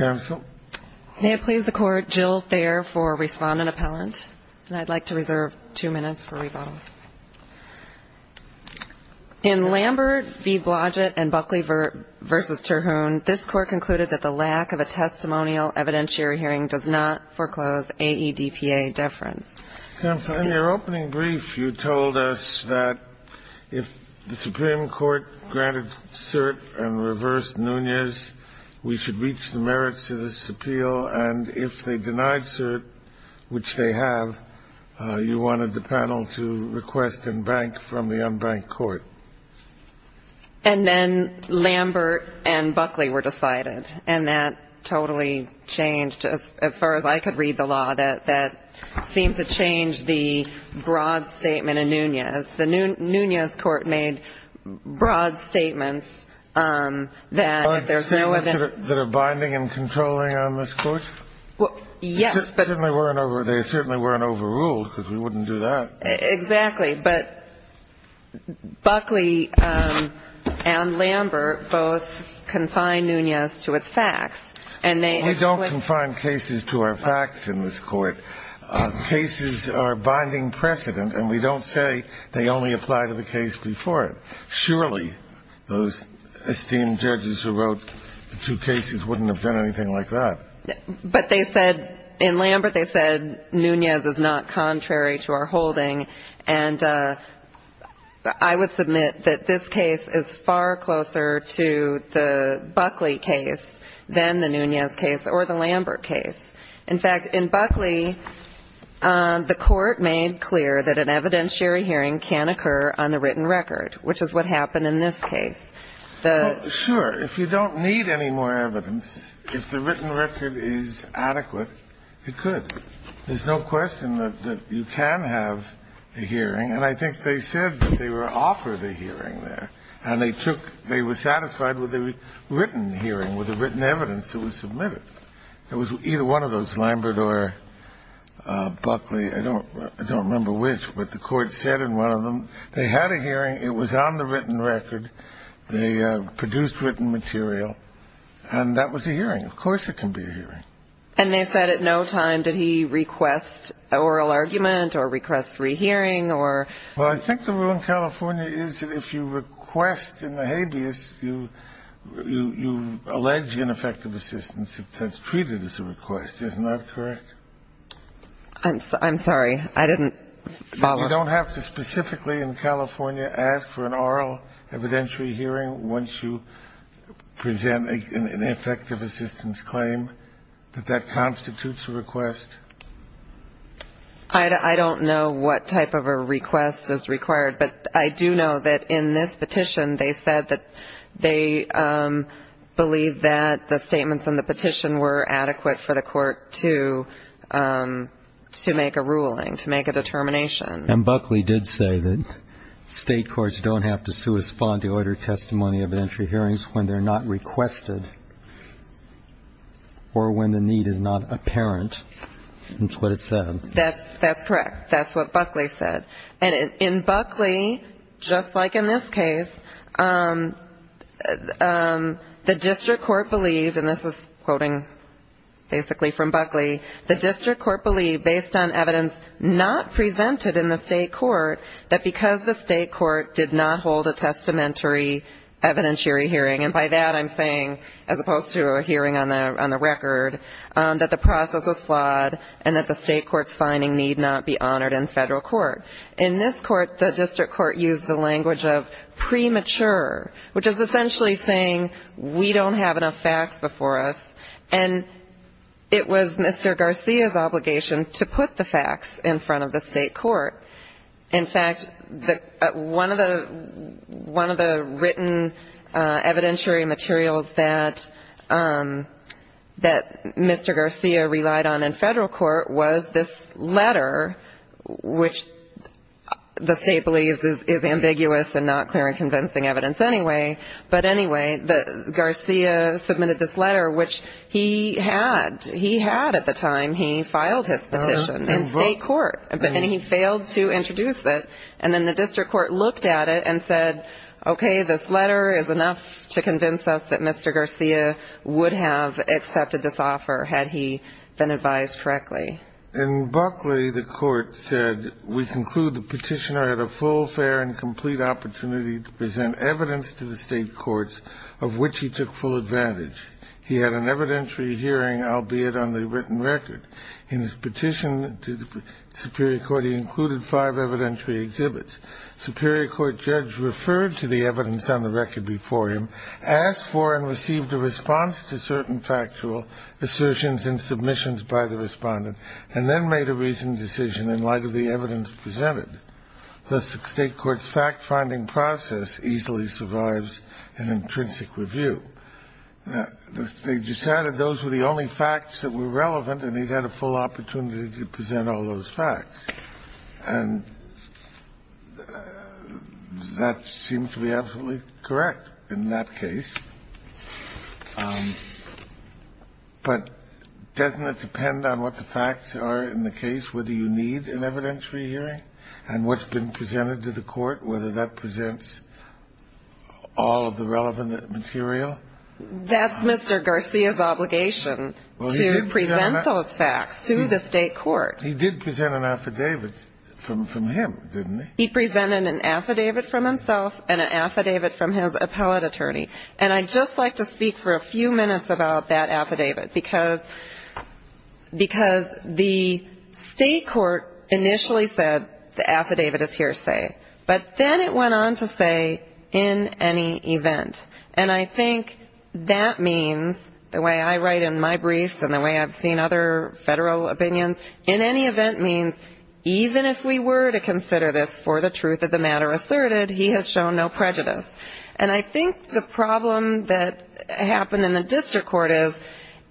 May it please the Court, Jill Thayer for Respondent Appellant, and I'd like to reserve two minutes for rebuttal. In Lambert v. Blodgett and Buckley v. Terhune, this Court concluded that the lack of a testimonial evidentiary hearing does not foreclose AEDPA deference. Counsel, in your opening brief, you told us that if the Supreme Court granted cert and reversed Nunez, we should reach the merits of this appeal. And if they denied cert, which they have, you wanted the panel to request and bank from the unbanked court. And then Lambert and Buckley were decided, and that totally changed, as far as I could read the law, that seemed to change the broad statement in Nunez. The Nunez Court made broad statements that there's no evidence. That are binding and controlling on this Court? Yes. They certainly weren't overruled, because we wouldn't do that. Exactly. But Buckley and Lambert both confined Nunez to its facts. We don't confine cases to our facts in this Court. Cases are binding precedent, and we don't say they only apply to the case before it. Surely, those esteemed judges who wrote the two cases wouldn't have done anything like that. But they said, in Lambert, they said Nunez is not contrary to our holding. And I would submit that this case is far closer to the Buckley case than the Nunez case or the Lambert case. In fact, in Buckley, the Court made clear that an evidentiary hearing can occur on a written record, which is what happened in this case. Sure. If you don't need any more evidence, if the written record is adequate, it could. There's no question that you can have a hearing. And I think they said that they were offered a hearing there. And they took they were satisfied with a written hearing, with the written evidence that was submitted. It was either one of those, Lambert or Buckley. I don't remember which. But the Court said in one of them they had a hearing. It was on the written record. They produced written material. And that was a hearing. Of course it can be a hearing. And they said at no time did he request oral argument or request rehearing or? Well, I think the rule in California is that if you request in the habeas, you allege ineffective assistance. It's treated as a request. Isn't that correct? I'm sorry. I didn't follow. You don't have to specifically in California ask for an oral evidentiary hearing once you present an effective assistance claim, that that constitutes a request? I don't know what type of a request is required, but I do know that in this petition they said that they believed that the statements in the petition were adequate for the And Buckley did say that State courts don't have to correspond to order testimony of an entry hearing when they're not requested or when the need is not apparent. That's what it said. That's correct. That's what Buckley said. And in Buckley, just like in this case, the district court believed, and this is quoting basically from Buckley, the district court believed, based on evidence not presented in the State court, that because the State court did not hold a testamentary evidentiary hearing, and by that I'm saying, as opposed to a hearing on the record, that the process was flawed and that the State court's finding need not be honored in federal court. In this court, the district court used the language of premature, which is essentially saying we don't have enough facts before us. And it was Mr. Garcia's obligation to put the facts in front of the State court. In fact, one of the written evidentiary materials that Mr. Garcia relied on in federal court was this letter, which the State believes is ambiguous and not clear and convincing evidence anyway, but anyway, Garcia submitted this letter, which he had. He had at the time. He filed his petition in State court, and he failed to introduce it. And then the district court looked at it and said, okay, this letter is enough to convince us that Mr. Garcia would have accepted this offer had he been advised correctly. In Buckley, the court said, we conclude the petitioner had a full, fair, and complete opportunity to present evidence to the State courts, of which he took full advantage. He had an evidentiary hearing, albeit on the written record. In his petition to the superior court, he included five evidentiary exhibits. Superior court judge referred to the evidence on the record before him, asked for and received a response to certain factual assertions and submissions by the respondent, and then made a reasoned decision in light of the evidence presented, thus the State court's fact-finding process easily survives an intrinsic review. They decided those were the only facts that were relevant, and he had a full opportunity to present all those facts. And that seemed to be absolutely correct in that case. But doesn't it depend on what the facts are in the case whether you need an evidentiary hearing and what's been presented to the court, whether that presents all of the relevant material? That's Mr. Garcia's obligation to present those facts to the State court. He did present an affidavit from him, didn't he? He presented an affidavit from himself and an affidavit from his appellate attorney. And I'd just like to speak for a few minutes about that affidavit, because the State court initially said the affidavit is hearsay, but then it went on to say, in any event. And I think that means, the way I write in my briefs and the way I've seen other federal opinions, in any event means even if we were to consider this for the truth of the matter asserted, he has shown no prejudice. And I think the problem that happened in the district court is,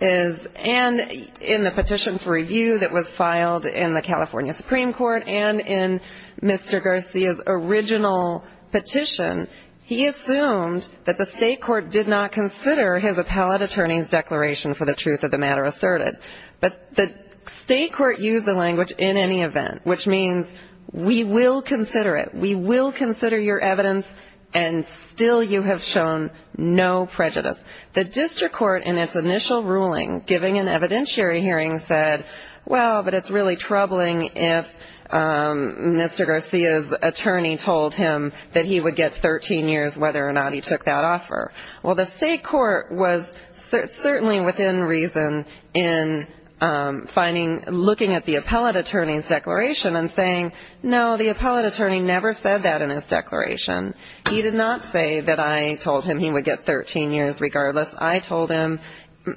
and in the petition for review that was filed in the California Supreme Court and in Mr. Garcia's original petition, he assumed that the State court did not consider his appellate attorney's declaration for the truth of the matter asserted. But the State court used the language, in any event, which means we will consider it. We will consider your evidence, and still you have shown no prejudice. The district court in its initial ruling, giving an evidentiary hearing, said, well, but it's really troubling if Mr. Garcia's attorney told him that he would get 13 years, whether or not he took that offer. Well, the State court was certainly within reason in finding, looking at the appellate attorney's declaration and saying, no, the appellate attorney never said that in his declaration. He did not say that I told him he would get 13 years regardless. I told him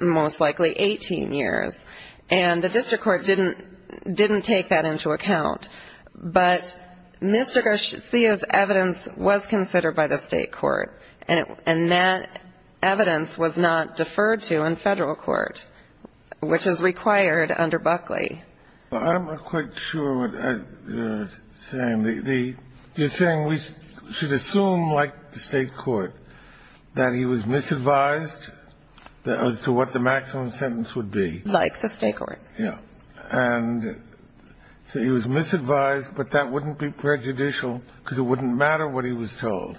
most likely 18 years. And the district court didn't take that into account. But Mr. Garcia's evidence was considered by the State court, and that evidence was not deferred to in federal court, which is required under Buckley. I'm not quite sure what you're saying. You're saying we should assume, like the State court, that he was misadvised as to what the maximum sentence would be. Like the State court. Yeah. And so he was misadvised, but that wouldn't be prejudicial, because it wouldn't matter what he was told.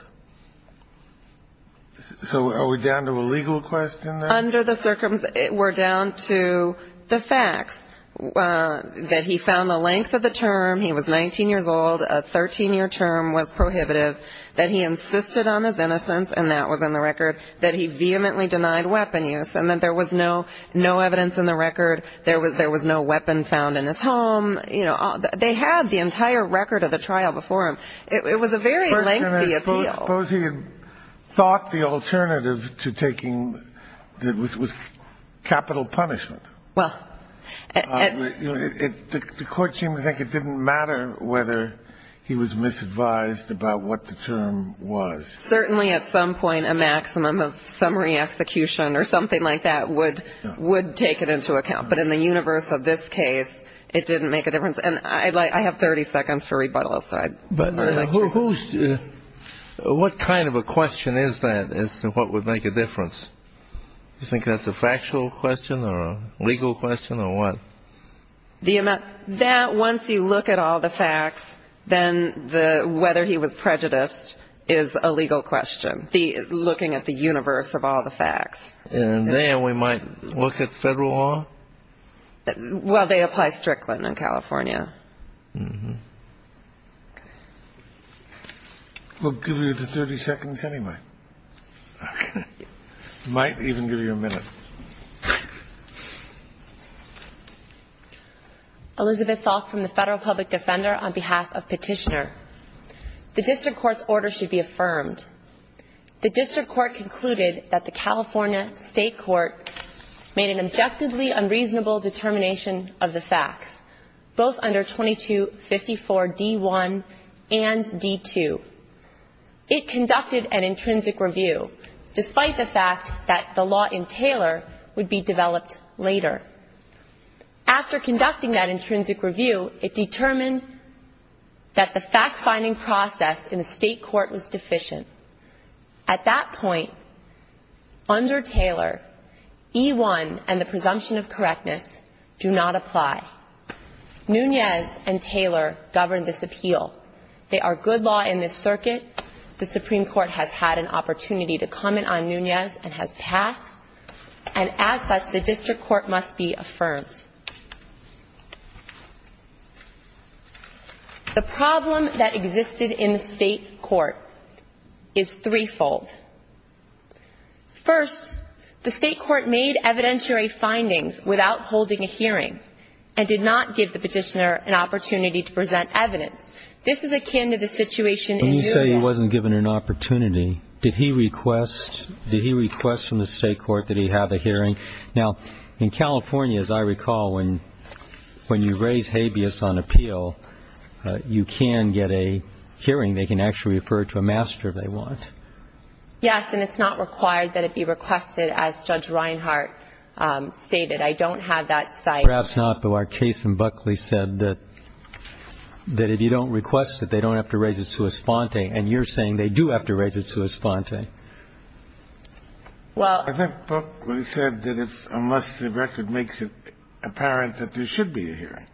So are we down to a legal question there? Under the circumstances, we're down to the facts. That he found the length of the term. He was 19 years old. A 13-year term was prohibitive. That he insisted on his innocence, and that was in the record. That he vehemently denied weapon use. And that there was no evidence in the record. There was no weapon found in his home. You know, they had the entire record of the trial before him. It was a very lengthy appeal. Suppose he had thought the alternative to taking was capital punishment. Well. The court seemed to think it didn't matter whether he was misadvised about what the term was. Certainly at some point a maximum of summary execution or something like that would take it into account. But in the universe of this case, it didn't make a difference. And I have 30 seconds for rebuttal, so I'd like to. What kind of a question is that as to what would make a difference? You think that's a factual question or a legal question or what? That once you look at all the facts, then whether he was prejudiced is a legal question. Looking at the universe of all the facts. And then we might look at federal law? Well, they apply Strickland in California. We'll give you the 30 seconds anyway. Okay. Thank you. We might even give you a minute. Elizabeth Falk from the Federal Public Defender on behalf of Petitioner. The district court's order should be affirmed. The district court concluded that the California State Court made an objectively unreasonable determination of the facts, both under 2254 D1 and D2. It conducted an intrinsic review, despite the fact that the law in Taylor would be developed later. After conducting that intrinsic review, it determined that the fact-finding process in the state court was deficient. At that point, under Taylor, E1 and the presumption of correctness do not apply. Nunez and Taylor govern this appeal. They are good law in this circuit. The Supreme Court has had an opportunity to comment on Nunez and has passed. And as such, the district court must be affirmed. The problem that existed in the state court is threefold. First, the state court made evidentiary findings without holding a hearing and did not give the petitioner an opportunity to present evidence. This is akin to the situation in your case. When you say he wasn't given an opportunity, did he request from the state court that he have a hearing? Now, in California, as I recall, when you raise habeas on appeal, you can get a hearing. They can actually refer it to a master if they want. Yes, and it's not required that it be requested, as Judge Reinhart stated. I don't have that site. Perhaps not, though. Our case in Buckley said that if you don't request it, they don't have to raise it sua sponte, and you're saying they do have to raise it sua sponte. Well, I think Buckley said that unless the record makes it apparent that there should be a hearing.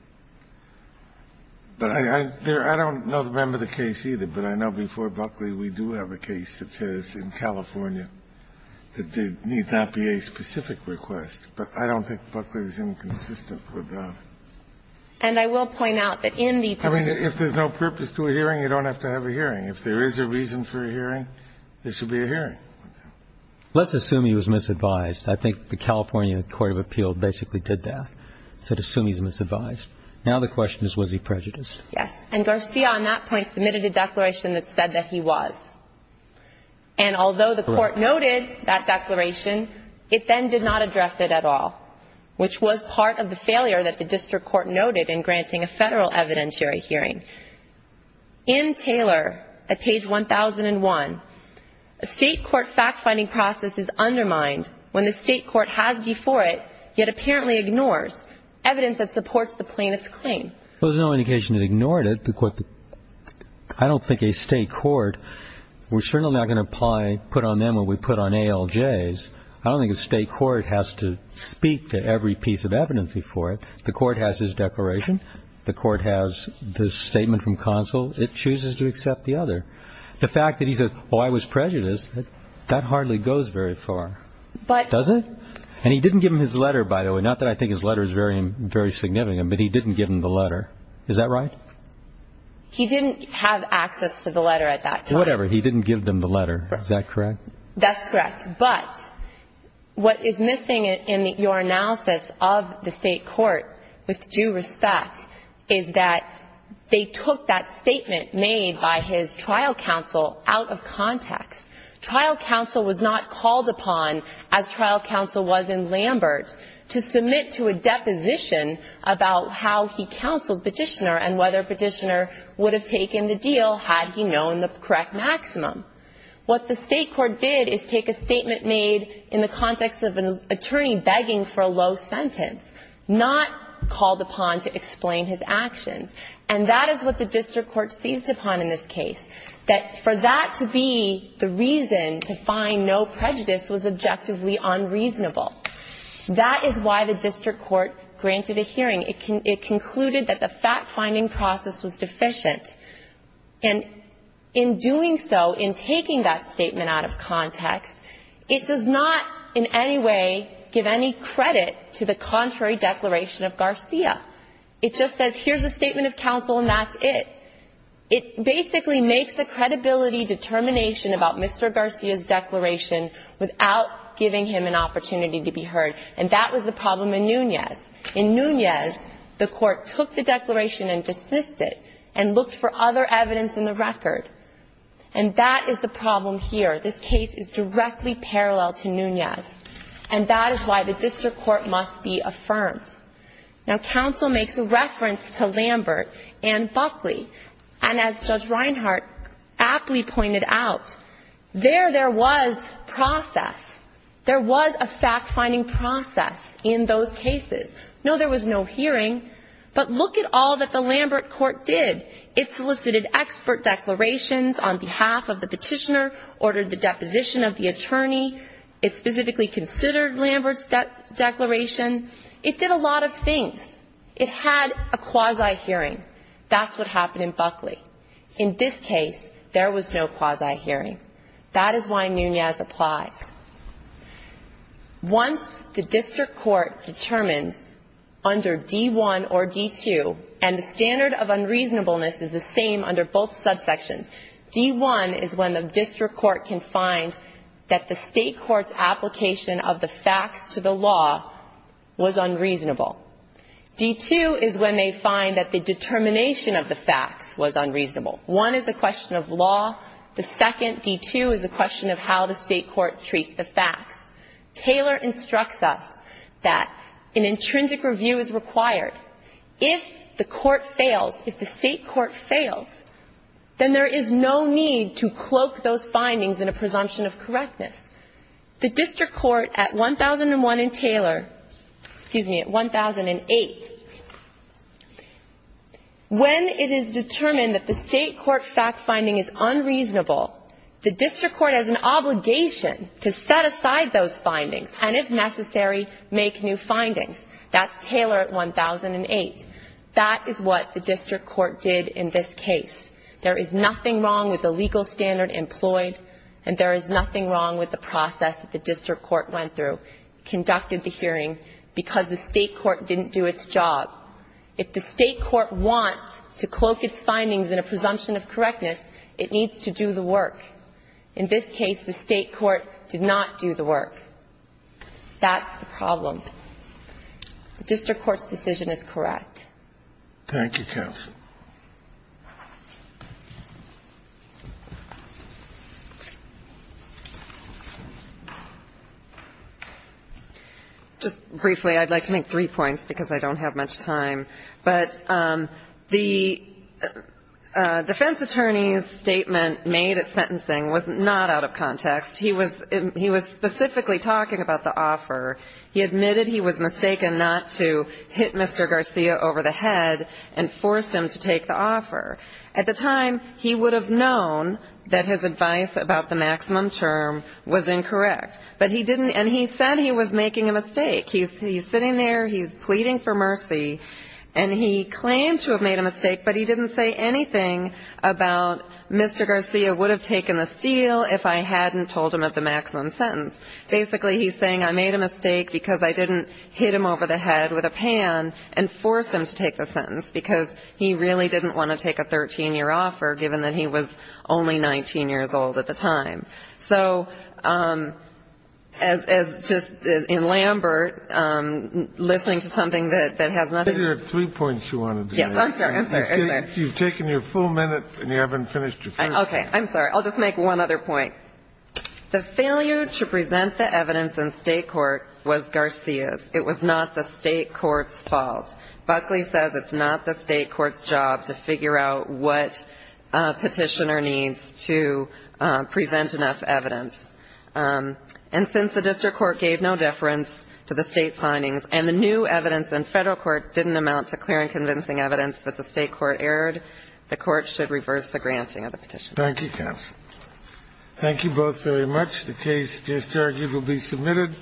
But I don't know the member of the case either, but I know before Buckley we do have a case that says in California that there need not be a specific request. But I don't think Buckley is inconsistent with that. And I will point out that in the petition. I mean, if there's no purpose to a hearing, you don't have to have a hearing. If there is a reason for a hearing, there should be a hearing. Let's assume he was misadvised. I think the California Court of Appeal basically did that. It said assume he's misadvised. Now the question is, was he prejudiced? Yes. And Garcia on that point submitted a declaration that said that he was. Correct. And although the court noted that declaration, it then did not address it at all, which was part of the failure that the district court noted in granting a federal evidentiary hearing. In Taylor at page 1001, a state court fact-finding process is undermined when the state court has before it yet apparently ignores evidence that supports the plaintiff's claim. Well, there's no indication it ignored it. I don't think a state court, we're certainly not going to apply, put on them what we put on ALJs. I don't think a state court has to speak to every piece of evidence before it. The court has his declaration. The court has the statement from counsel. It chooses to accept the other. The fact that he says, oh, I was prejudiced, that hardly goes very far, does it? And he didn't give him his letter, by the way, not that I think his letter is very significant, but he didn't give him the letter. Is that right? He didn't have access to the letter at that time. Whatever. He didn't give them the letter. Is that correct? That's correct. But what is missing in your analysis of the state court with due respect is that they took that statement made by his trial counsel out of context. Trial counsel was not called upon, as trial counsel was in Lambert, to submit to a position about how he counseled Petitioner and whether Petitioner would have taken the deal had he known the correct maximum. What the state court did is take a statement made in the context of an attorney begging for a low sentence, not called upon to explain his actions. And that is what the district court seized upon in this case, that for that to be the reason to find no prejudice was objectively unreasonable. That is why the district court granted a hearing. It concluded that the fact-finding process was deficient. And in doing so, in taking that statement out of context, it does not in any way give any credit to the contrary declaration of Garcia. It just says here's a statement of counsel and that's it. It basically makes a credibility determination about Mr. Garcia's declaration without giving him an opportunity to be heard. And that was the problem in Nunez. In Nunez, the court took the declaration and dismissed it and looked for other evidence in the record. And that is the problem here. This case is directly parallel to Nunez. And that is why the district court must be affirmed. Now, counsel makes a reference to Lambert and Buckley. And as Judge Reinhart aptly pointed out, there there was process. There was a fact-finding process in those cases. No, there was no hearing. But look at all that the Lambert court did. It solicited expert declarations on behalf of the petitioner, ordered the deposition of the attorney. It specifically considered Lambert's declaration. It did a lot of things. It had a quasi-hearing. That's what happened in Buckley. In this case, there was no quasi-hearing. That is why Nunez applies. Once the district court determines under D-1 or D-2, and the standard of unreasonableness is the same under both subsections, D-1 is when the district court can find that the state court's application of the facts to the law was unreasonable. D-2 is when they find that the determination of the facts was unreasonable. One is a question of law. The second, D-2, is a question of how the state court treats the facts. Taylor instructs us that an intrinsic review is required. If the court fails, if the state court fails, then there is no need to cloak those findings in a presumption of correctness. The district court at 1001 and Taylor, excuse me, at 1008, when it is determined that the state court fact-finding is unreasonable, the district court has an obligation to set aside those findings and, if necessary, make new findings. That's Taylor at 1008. That is what the district court did in this case. There is nothing wrong with the legal standard employed, and there is nothing wrong with the process that the district court went through, conducted the hearing, because the state court didn't do its job. If the state court wants to cloak its findings in a presumption of correctness, it needs to do the work. In this case, the state court did not do the work. That's the problem. The district court's decision is correct. Thank you, counsel. Just briefly, I'd like to make three points because I don't have much time. But the defense attorney's statement made at sentencing was not out of context. He was specifically talking about the offer. He admitted he was mistaken not to hit Mr. Garcia over the head and force him to take the offer. At the time, he would have known that his advice about the maximum term was incorrect. But he didn't, and he said he was making a mistake. He's sitting there, he's pleading for mercy, and he claimed to have made a mistake, but he didn't say anything about Mr. Garcia would have taken the steal if I hadn't told him of the maximum sentence. Basically, he's saying I made a mistake because I didn't hit him over the head with a pan and force him to take the sentence, because he really didn't want to take a 13-year offer, given that he was only 19 years old at the time. So as just in Lambert, listening to something that has nothing to do with the statute of limits. There are three points you wanted to make. Yes, I'm sorry. I'm sorry. You've taken your full minute, and you haven't finished your first one. Okay. I'm sorry. I'll just make one other point. The failure to present the evidence in State court was Garcia's. It was not the State court's fault. Buckley says it's not the State court's job to figure out what petitioner needs to present enough evidence. And since the district court gave no deference to the State findings, and the new evidence in Federal court didn't amount to clear and convincing evidence that the State court erred, the court should reverse the granting of the petition. Thank you, counsel. Thank you both very much. The case just argued will be submitted.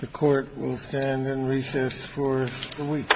The court will stand in recess for a week. Thank you.